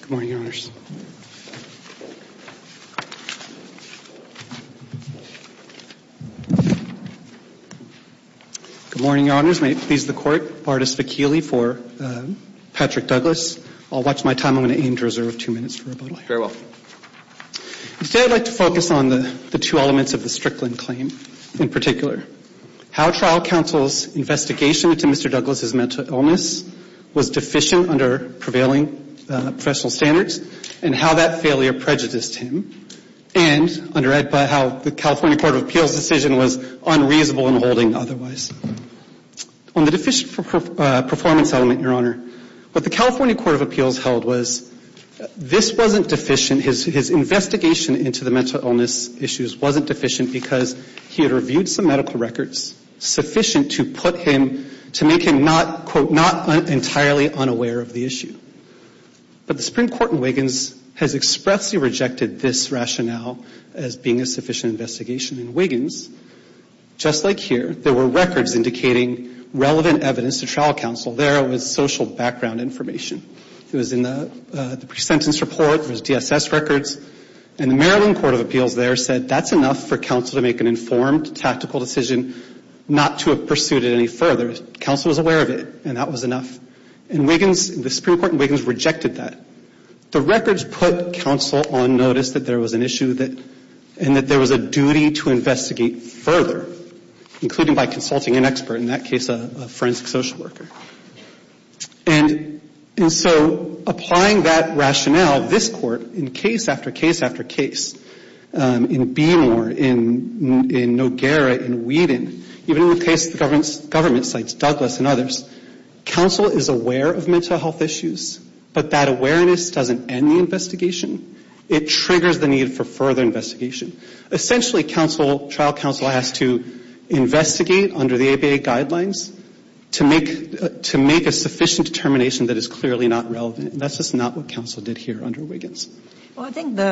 Good morning, Your Honors. Good morning, Your Honors. May it please the Court, Bartis Vakili for Patrick Douglas. I'll watch my time. I'm going to aim to reserve two minutes for rebuttal. Instead, I'd like to focus on the two elements of the Strickland claim in particular. How trial counsel's investigation into Mr. Douglas' mental illness was deficient under prevailing professional standards, and how that failure prejudiced him, and, under EDPA, how the California Court of Appeals' decision was unreasonable in holding otherwise. On the deficient performance element, Your Honor, what the California Court of Appeals held was this wasn't deficient. His investigation into the mental illness issues wasn't deficient because he had reviewed some medical records sufficient to put him, to make him not, quote, not entirely unaware of the issue. But the Supreme Court in Wiggins has expressly rejected this rationale as being a sufficient investigation. In Wiggins, just like here, there were records indicating relevant evidence to trial counsel. There was social background information. It was in the pre-sentence report. It was DSS records. And the Maryland Court of Appeals there said that's enough for counsel to make an informed tactical decision not to have pursued it any further. Counsel was aware of it, and that was enough. And Wiggins, the Supreme Court in Wiggins rejected that. The records put counsel on notice that there was an issue that, and that there was a duty to investigate further, including by consulting an expert, in that case a forensic social worker. And so applying that rationale, this Court, in case after case after case, in Beemore, in Noguera, in Whedon, even in the case of the government sites, Douglas and others, counsel is aware of mental health issues, but that awareness doesn't end the investigation. It triggers the need for further investigation. Essentially, counsel, trial counsel has to investigate under the ABA guidelines to make a sufficient determination that is clearly not relevant. And that's just not what counsel did here under Wiggins. Ginsburg. Well, I think the,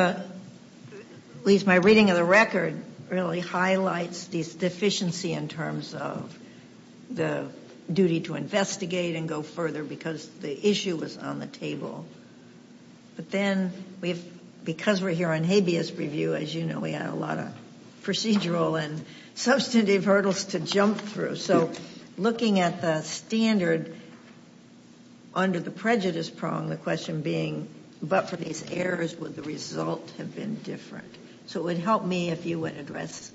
at least my reading of the record really highlights this deficiency in terms of the duty to investigate and go further because the issue was on the table. But then because we're here on habeas review, as you know, we had a lot of procedural and substantive hurdles to jump through. So looking at the standard under the prejudice prong, the question being, but for these errors, would the result have been different? So it would help me if you would address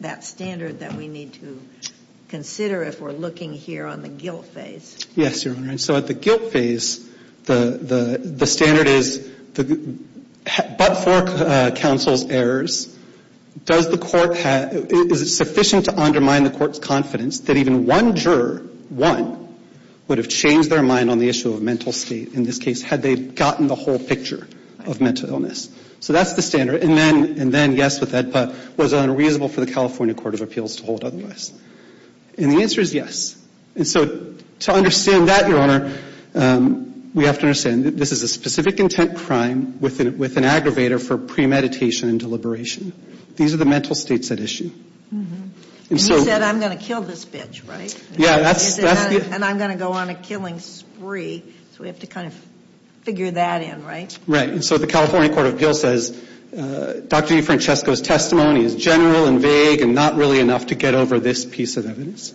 that standard that we need to consider if we're looking here on the guilt phase. Yes, Your Honor. And so at the guilt phase, the standard is, but for counsel's errors, does the court have, is it sufficient to undermine the court's confidence that even one juror, one, would have changed their mind on the issue of mental state in this case had they gotten the whole picture of mental illness? So that's the standard. And then, yes, with EDPA, was it unreasonable for the California Court of Appeals to hold otherwise? And the answer is yes. And so to understand that, Your Honor, we have to understand that this is a specific intent crime with an aggravator for premeditation and deliberation. These are the mental states at issue. And you said, I'm going to kill this bitch, right? And I'm going to go on a killing spree, so we have to kind of figure that in, right? Right. And so the California Court of Appeals says, Dr. Francesco's testimony is general and vague and not really enough to get over this piece of evidence.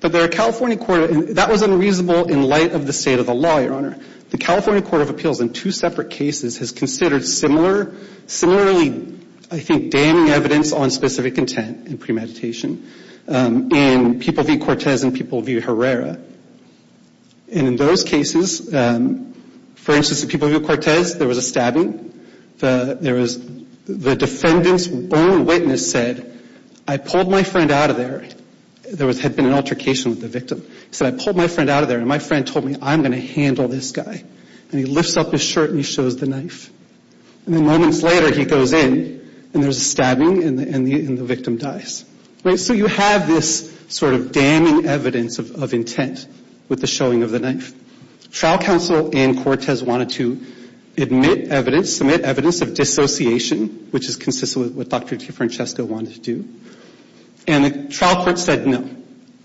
That was unreasonable in light of the state of the law, Your Honor. The California Court of Appeals in two separate cases has considered similarly, I think, damning evidence on specific intent in premeditation in people v. Cortez and people v. Herrera. And in those cases, for instance, in people v. Cortez, there was a stabbing. The defendant's own witness said, I pulled my friend out of there. There had been an altercation with the victim. He said, I pulled my friend out of there, and my friend told me, I'm going to handle this guy. And he lifts up his shirt and he shows the knife. And then moments later, he goes in, and there's a stabbing, and the victim dies. Right? So you have this sort of damning evidence of intent with the showing of the knife. Trial counsel in Cortez wanted to admit evidence, submit evidence of dissociation, which is consistent with what Dr. Francesco wanted to do, and the trial court said no.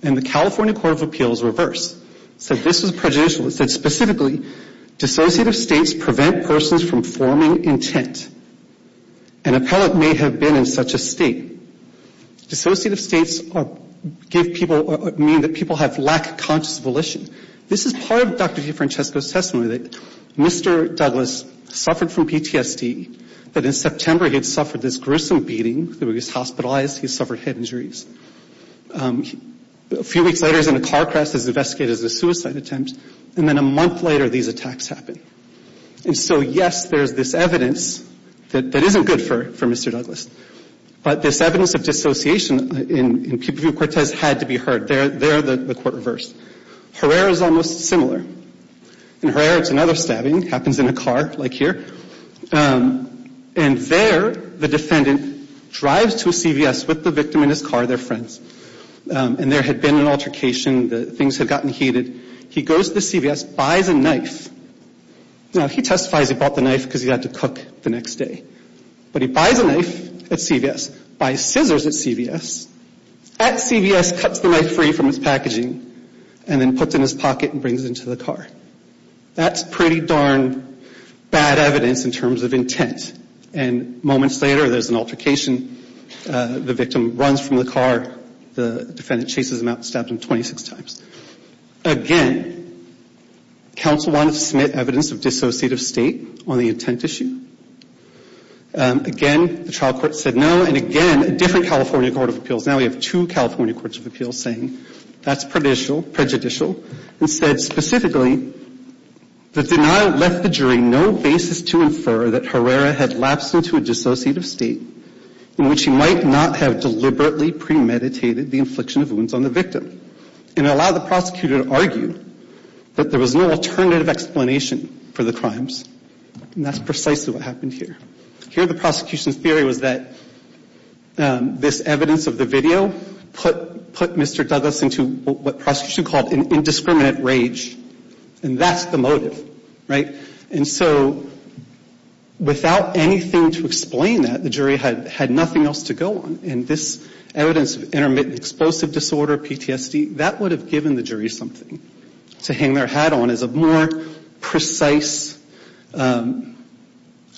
And the California Court of Appeals reversed, said this was prejudicial. It said specifically, dissociative states prevent persons from forming intent. An appellate may have been in such a state. Dissociative states give people, mean that people have lack of conscious volition. This is part of Dr. DeFrancesco's testimony, that Mr. Douglas suffered from PTSD, that in September he had suffered this gruesome beating. He was hospitalized. He suffered head injuries. A few weeks later, he was in a car crash that was investigated as a suicide attempt. And then a month later, these attacks happened. And so, yes, there's this evidence that isn't good for Mr. Douglas. But this evidence of dissociation in Pupil v. Cortez had to be heard. There, the court reversed. Herrera is almost similar. In Herrera, it's another stabbing. It happens in a car, like here. And there, the defendant drives to a CVS with the victim in his car, their friends. And there had been an altercation. Things had gotten heated. He goes to the CVS, buys a knife. Now, he testifies he bought the knife because he had to cook the next day. But he buys a knife at CVS, buys scissors at CVS. At CVS, cuts the knife free from its packaging and then puts it in his pocket and brings it into the car. That's pretty darn bad evidence in terms of intent. And moments later, there's an altercation. The victim runs from the car. The defendant chases him out and stabs him 26 times. Again, counsel wanted to submit evidence of dissociative state on the intent issue. Again, the trial court said no. And again, a different California court of appeals. Now we have two California courts of appeals saying that's prejudicial. Instead, specifically, the denial left the jury no basis to infer that Herrera had lapsed into a dissociative state in which he might not have deliberately premeditated the infliction of wounds on the victim. And it allowed the prosecutor to argue that there was no alternative explanation for the crimes. And that's precisely what happened here. Here, the prosecution's theory was that this evidence of the video put Mr. Douglas into what prosecutors would call indiscriminate rage. And that's the motive, right? And so without anything to explain that, the jury had nothing else to go on. And this evidence of intermittent explosive disorder, PTSD, that would have given the jury something to hang their hat on as a more precise verdict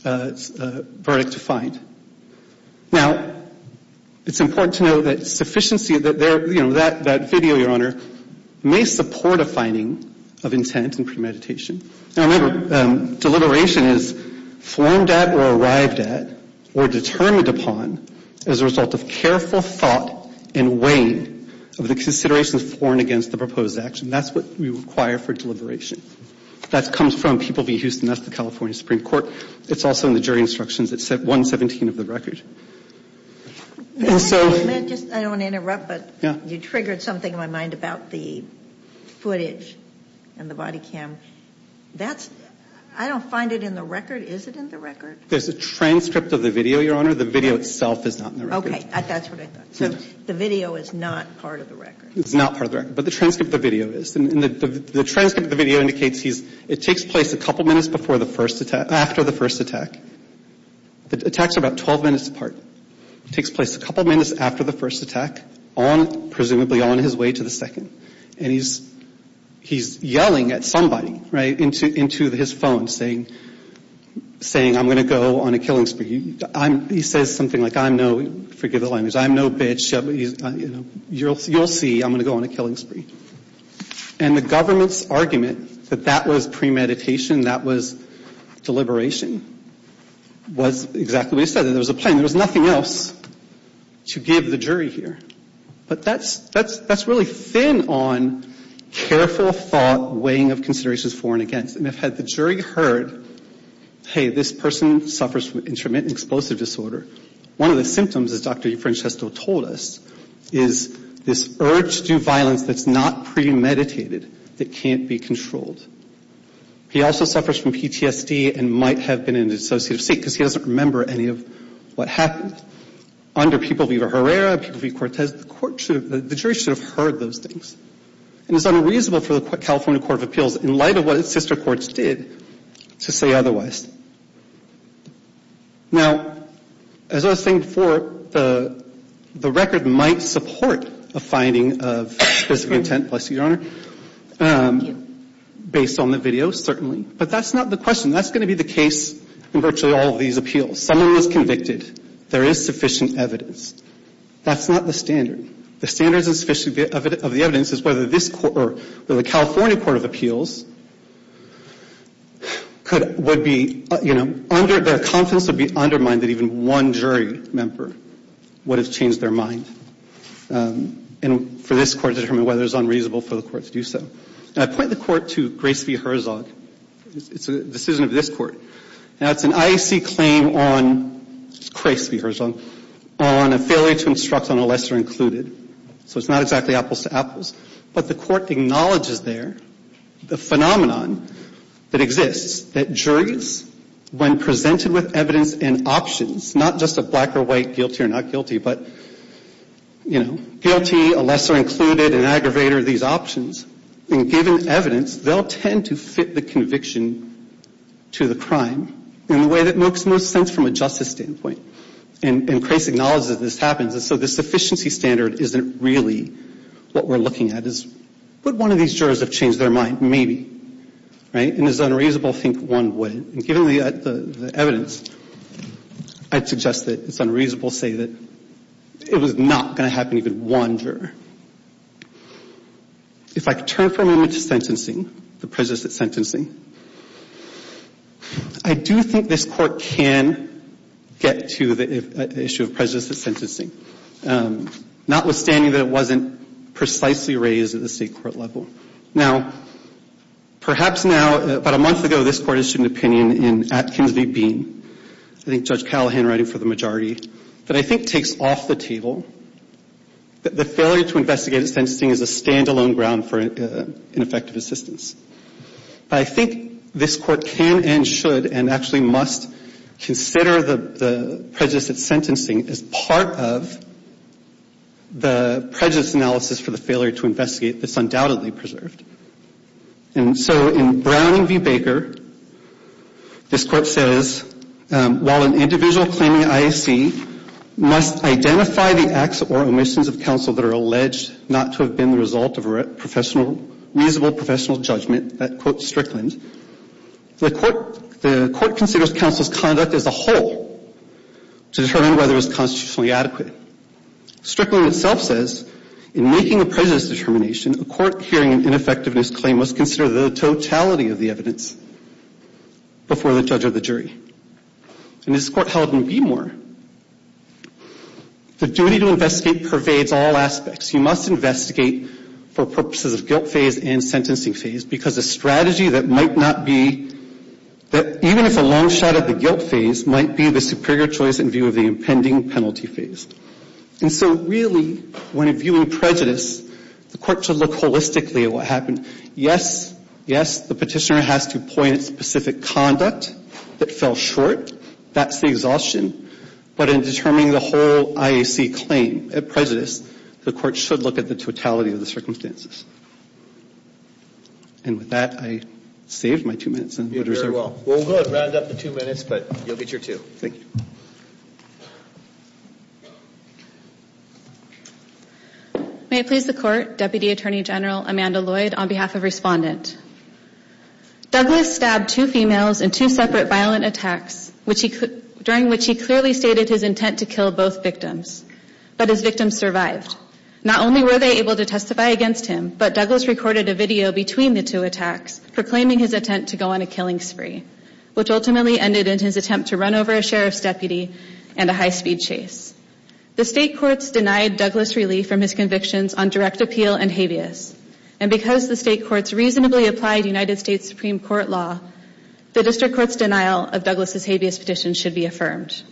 to find. Now, it's important to know that sufficiency, that video, Your Honor, may support a finding of intent and premeditation. Now, remember, deliberation is formed at or arrived at or determined upon as a result of careful thought and weighing of the considerations for and against the proposed action. That's what we require for deliberation. That comes from People v. Houston. That's the California Supreme Court. It's also in the jury instructions. It's at 117 of the record. And so you triggered something in my mind about the footage and the body cam. That's – I don't find it in the record. Is it in the record? There's a transcript of the video, Your Honor. The video itself is not in the record. Okay. That's what I thought. So the video is not part of the record. It's not part of the record. But the transcript of the video is. And the transcript of the video indicates he's – it takes place a couple minutes before the first attack – after the first attack. The attacks are about 12 minutes apart. It takes place a couple minutes after the first attack on – presumably on his way to the second. And he's yelling at somebody, right, into his phone, saying, I'm going to go on a killing spree. He says something like, I'm no – forgive the language. I'm no bitch. You'll see. I'm going to go on a killing spree. And the government's argument that that was premeditation, that was deliberation, was exactly what he said. There was a plan. There was nothing else to give the jury here. But that's – that's really thin on careful thought, weighing of considerations for and against. And if the jury heard, hey, this person suffers from intermittent explosive disorder, one of the symptoms, as Dr. Francesco told us, is this urge to do violence that's not premeditated, that can't be controlled. He also suffers from PTSD and might have been in an associative state because he doesn't remember any of what happened. Under People v. Herrera, People v. Cortez, the jury should have heard those things. And it's unreasonable for the California Court of Appeals, in light of what its sister courts did, to say otherwise. Now, as I was saying before, the record might support a finding of specific intent, bless you, Your Honor, based on the video, certainly. But that's not the question. That's going to be the case in virtually all of these appeals. Someone was convicted. There is sufficient evidence. That's not the standard. The standard of the evidence is whether this – or whether the California Court of Appeals could – would be, you know, under – their confidence would be undermined that even one jury member would have changed their mind. And for this court to determine whether it's unreasonable for the court to do so. And I point the court to Grace v. Herzog. It's a decision of this court. Now, it's an IEC claim on Grace v. Herzog on a failure to instruct on a lesser included. So it's not exactly apples to apples. But the court acknowledges there the phenomenon that exists, that juries, when presented with evidence and options, not just a black or white guilty or not guilty, but, you know, guilty, a lesser included, an aggravator, these options, and given evidence, they'll tend to fit the conviction to the crime in the way that makes most sense from a justice standpoint. And Grace acknowledges this happens. And so the sufficiency standard isn't really what we're looking at. Is would one of these jurors have changed their mind? Maybe. Right? And is it unreasonable to think one wouldn't? And given the evidence, I'd suggest that it's unreasonable to say that it was not going to happen to even one juror. If I could turn for a moment to sentencing, the presence at sentencing, I do think this court can get to the issue of presence at sentencing, notwithstanding that it wasn't precisely raised at the state court level. Now, perhaps now, about a month ago, this court issued an opinion in Atkins v. Bean, I think Judge Callahan writing for the majority, that I think takes off the table that the failure to investigate at sentencing is a standalone ground for ineffective assistance. But I think this court can and should and actually must consider the presence at sentencing as part of the presence analysis for the failure to investigate that's undoubtedly preserved. And so in Brown v. Baker, this court says, while an individual claiming IAC must identify the acts or omissions of counsel that are alleged not to have been the result of a reasonable professional judgment, that, quote Strickland, the court considers counsel's conduct as a whole to determine whether it was constitutionally adequate. Strickland itself says, in making a prejudice determination, a court hearing an ineffectiveness claim must consider the totality of the evidence before the judge or the jury. And this court held in Beemore, the duty to investigate pervades all aspects. You must investigate for purposes of guilt phase and sentencing phase because a strategy that might not be, even if a long shot at the guilt phase, might be the superior choice in view of the impending penalty phase. And so really, when viewing prejudice, the court should look holistically at what happened. Yes, yes, the petitioner has to point at specific conduct that fell short. That's the exhaustion. But in determining the whole IAC claim of prejudice, the court should look at the totality of the circumstances. And with that, I saved my two minutes. We'll go ahead and round up the two minutes, but you'll get your two. Thank you. May it please the Court, Deputy Attorney General Amanda Lloyd, on behalf of Respondent. Douglas stabbed two females in two separate violent attacks, during which he clearly stated his intent to kill both victims. But his victims survived. Not only were they able to testify against him, but Douglas recorded a video between the two attacks, proclaiming his intent to go on a killing spree, which ultimately ended in his attempt to run over a sheriff's deputy and a high-speed chase. The State Courts denied Douglas relief from his convictions on direct appeal and habeas. And because the State Courts reasonably applied United States Supreme Court law, the District Court's denial of Douglas' habeas petition should be affirmed.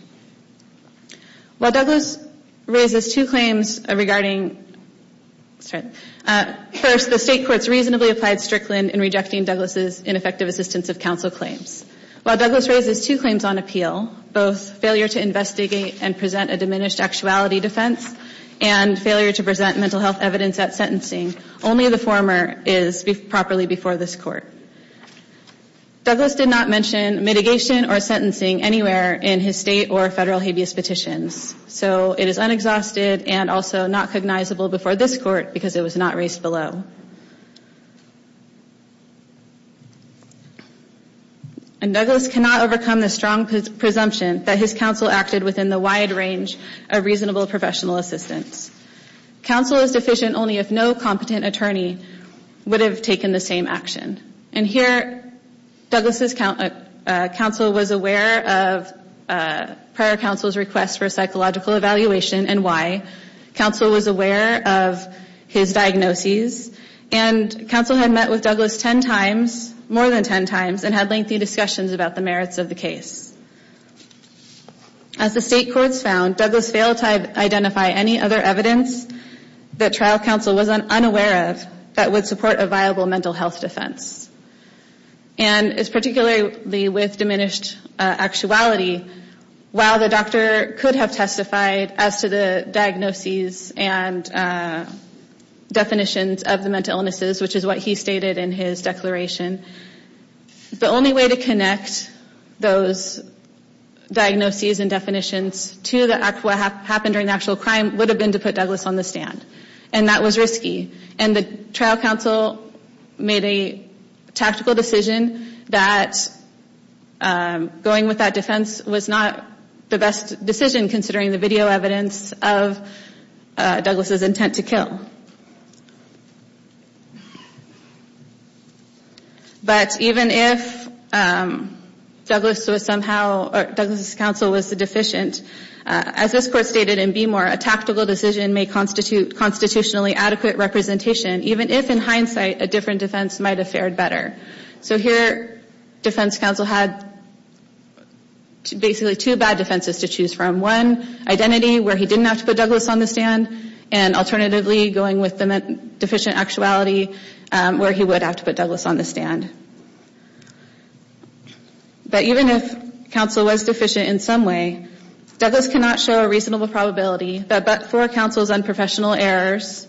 While Douglas raises two claims regarding... First, the State Courts reasonably applied Strickland in rejecting Douglas' ineffective assistance of counsel claims. While Douglas raises two claims on appeal, both failure to investigate and present a diminished actuality defense and failure to present mental health evidence at sentencing, only the former is properly before this Court. Douglas did not mention mitigation or sentencing anywhere in his State or Federal habeas petitions. So it is unexhausted and also not cognizable before this Court because it was not raised below. And Douglas cannot overcome the strong presumption that his counsel acted within the wide range of reasonable professional assistance. Counsel is deficient only if no competent attorney would have taken the same action. And here, Douglas' counsel was aware of prior counsel's request for psychological evaluation and why. Counsel was aware of his diagnoses, and counsel had met with Douglas ten times, more than ten times, and had lengthy discussions about the merits of the case. As the State Courts found, Douglas failed to identify any other evidence that trial counsel was unaware of that would support a viable mental health defense. And it's particularly with diminished actuality. While the doctor could have testified as to the diagnoses and definitions of the mental illnesses, which is what he stated in his declaration, the only way to connect those diagnoses and definitions to what happened during the actual crime would have been to put Douglas on the stand. And that was risky. And the trial counsel made a tactical decision that going with that defense was not the best decision considering the video evidence of Douglas' intent to kill. But even if Douglas was somehow, or Douglas' counsel was deficient, as this Court stated in Beemore, a tactical decision may constitute constitutionally adequate representation, even if, in hindsight, a different defense might have fared better. So here, defense counsel had basically two bad defenses to choose from. One, identity, where he didn't have to put Douglas on the stand. And alternatively, going with the deficient actuality, where he would have to put Douglas on the stand. But even if counsel was deficient in some way, Douglas cannot show a reasonable probability that but for counsel's unprofessional errors,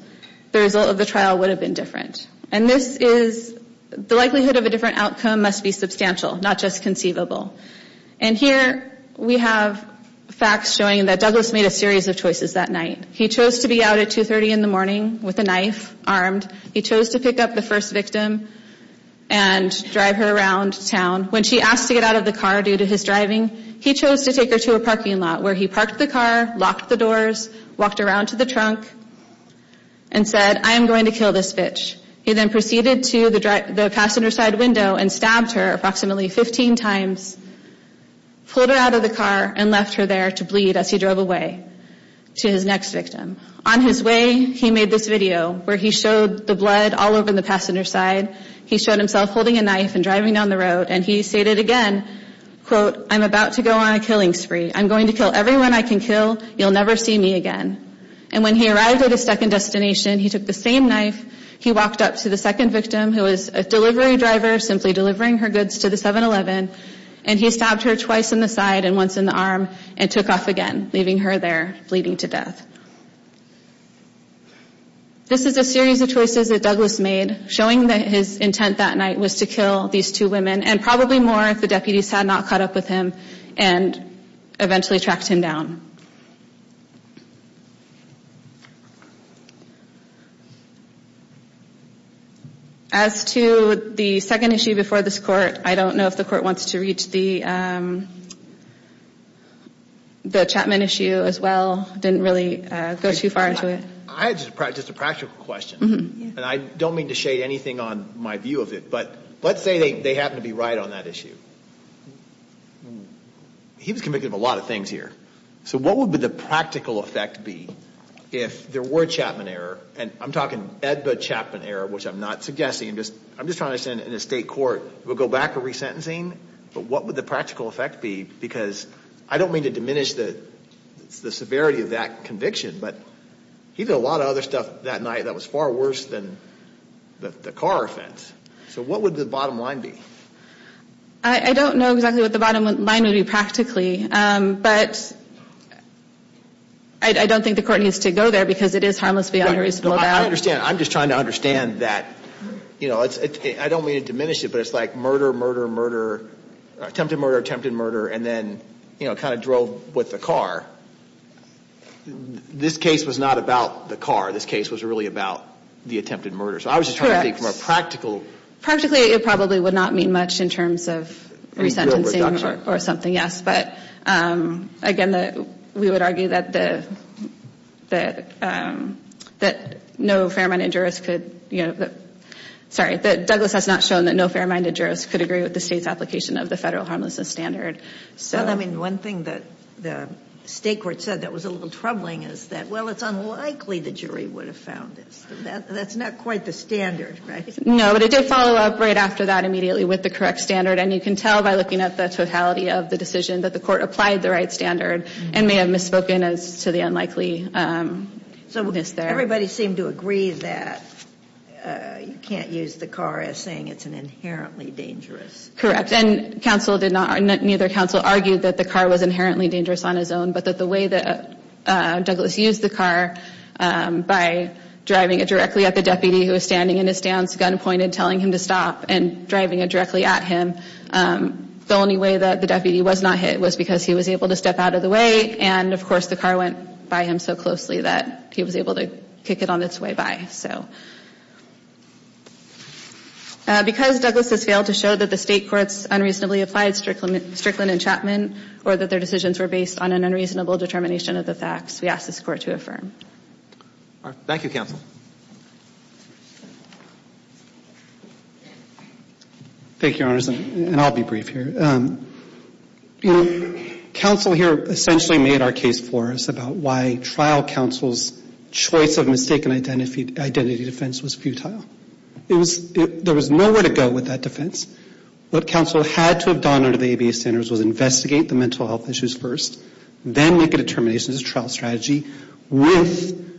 the result of the trial would have been different. And this is, the likelihood of a different outcome must be substantial, not just conceivable. And here we have facts showing that Douglas made a series of choices that night. He chose to be out at 2.30 in the morning with a knife armed. He chose to pick up the first victim and drive her around town. When she asked to get out of the car due to his driving, he chose to take her to a parking lot where he parked the car, locked the doors, walked around to the trunk, and said, I am going to kill this bitch. He then proceeded to the passenger side window and stabbed her approximately 15 times, pulled her out of the car, and left her there to bleed as he drove away to his next victim. On his way, he made this video where he showed the blood all over the passenger side. He showed himself holding a knife and driving down the road. And he stated again, quote, I'm about to go on a killing spree. I'm going to kill everyone I can kill. You'll never see me again. And when he arrived at his second destination, he took the same knife. He walked up to the second victim who was a delivery driver, simply delivering her goods to the 7-Eleven, and he stabbed her twice in the side and once in the arm and took off again, leaving her there bleeding to death. This is a series of choices that Douglas made, showing that his intent that night was to kill these two women and probably more if the deputies had not caught up with him and eventually tracked him down. As to the second issue before this court, I don't know if the court wants to reach the Chapman issue as well. I didn't really go too far into it. I had just a practical question, and I don't mean to shade anything on my view of it, but let's say they happen to be right on that issue. He was convicted of a lot of things here. So what would the practical effect be if there were a Chapman error, and I'm talking EDBA-Chapman error, which I'm not suggesting. I'm just trying to understand in a state court, it would go back to resentencing, but what would the practical effect be? Because I don't mean to diminish the severity of that conviction, but he did a lot of other stuff that night that was far worse than the car offense. So what would the bottom line be? I don't know exactly what the bottom line would be practically, but I don't think the court needs to go there because it is harmless beyond reasonable doubt. I'm just trying to understand that. I don't mean to diminish it, but it's like murder, murder, murder, attempted murder, attempted murder, and then kind of drove with the car. This case was not about the car. This case was really about the attempted murder. So I was just trying to think from a practical. Practically, it probably would not mean much in terms of resentencing or something, yes, but again, we would argue that no fair-minded jurist could, sorry, that Douglas has not shown that no fair-minded jurist could agree with the state's application of the federal harmlessness standard. Well, I mean, one thing that the state court said that was a little troubling is that, well, it's unlikely the jury would have found this. That's not quite the standard, right? No, but it did follow up right after that immediately with the correct standard, and you can tell by looking at the totality of the decision that the court applied the right standard and may have misspoken as to the unlikelyness there. Everybody seemed to agree that you can't use the car as saying it's an inherently dangerous. Correct, and neither counsel argued that the car was inherently dangerous on its own, but that the way that Douglas used the car by driving it directly at the deputy who was standing in his stance, gun pointed, telling him to stop, and driving it directly at him, the only way that the deputy was not hit was because he was able to step out of the way, and, of course, the car went by him so closely that he was able to kick it on its way by. So because Douglas has failed to show that the state courts unreasonably applied Strickland and Chapman or that their decisions were based on an unreasonable determination of the facts, we ask this Court to affirm. Thank you, counsel. Thank you, Your Honors, and I'll be brief here. You know, counsel here essentially made our case for us about why trial counsel's choice of mistaken identity defense was futile. There was nowhere to go with that defense. What counsel had to have done under the ABA standards was investigate the mental health issues first, then make a determination as a trial strategy with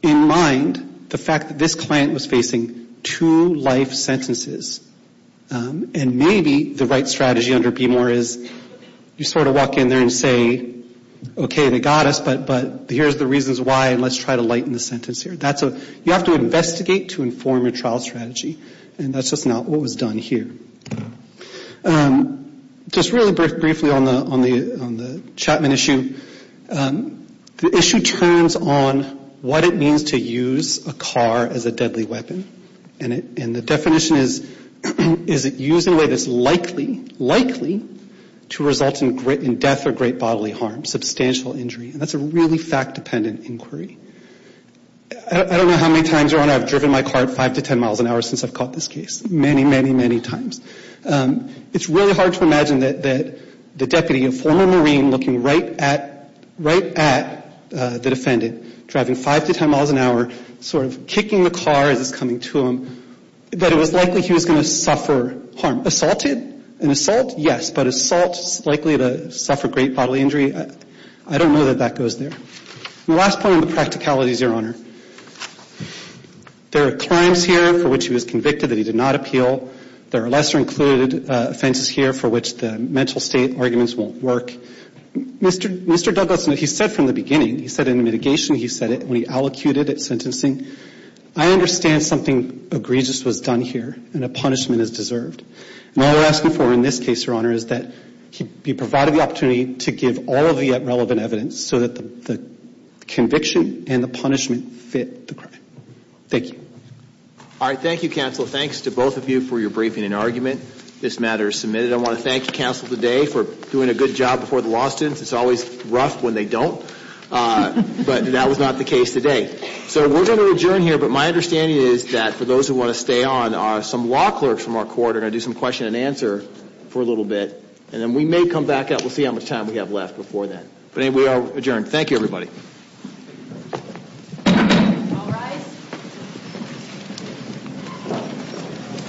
in mind the fact that this client was facing two life sentences, and maybe the right strategy under BMOR is you sort of walk in there and say, okay, they got us, but here's the reasons why, and let's try to lighten the sentence here. You have to investigate to inform your trial strategy, and that's just not what was done here. Just really briefly on the Chapman issue, the issue turns on what it means to use a car as a deadly weapon, and the definition is, is it used in a way that's likely, likely to result in death or great bodily harm, substantial injury, and that's a really fact-dependent inquiry. I don't know how many times, Your Honor, I've driven my car at 5 to 10 miles an hour since I've caught this case. Many, many, many times. It's really hard to imagine that the deputy, a former Marine, looking right at the defendant, driving 5 to 10 miles an hour, sort of kicking the car as it's coming to him, that it was likely he was going to suffer harm. Assaulted, an assault, yes, but assault is likely to suffer great bodily injury. I don't know that that goes there. The last point on the practicalities, Your Honor, there are crimes here for which he was convicted that he did not appeal. There are lesser-included offenses here for which the mental state arguments won't work. Mr. Douglas, he said from the beginning, he said in the mitigation, he said it when he allocuted at sentencing, I understand something egregious was done here and a punishment is deserved. And all we're asking for in this case, Your Honor, is that he be provided the opportunity to give all of the relevant evidence so that the conviction and the punishment fit the crime. Thank you. All right, thank you, counsel. Thanks to both of you for your briefing and argument. This matter is submitted. I want to thank you, counsel, today for doing a good job before the law students. It's always rough when they don't, but that was not the case today. So we're going to adjourn here, but my understanding is that for those who want to stay on, some law clerks from our court are going to do some question and answer for a little bit, and then we may come back out. We'll see how much time we have left before then. We are adjourned. Thank you, everybody.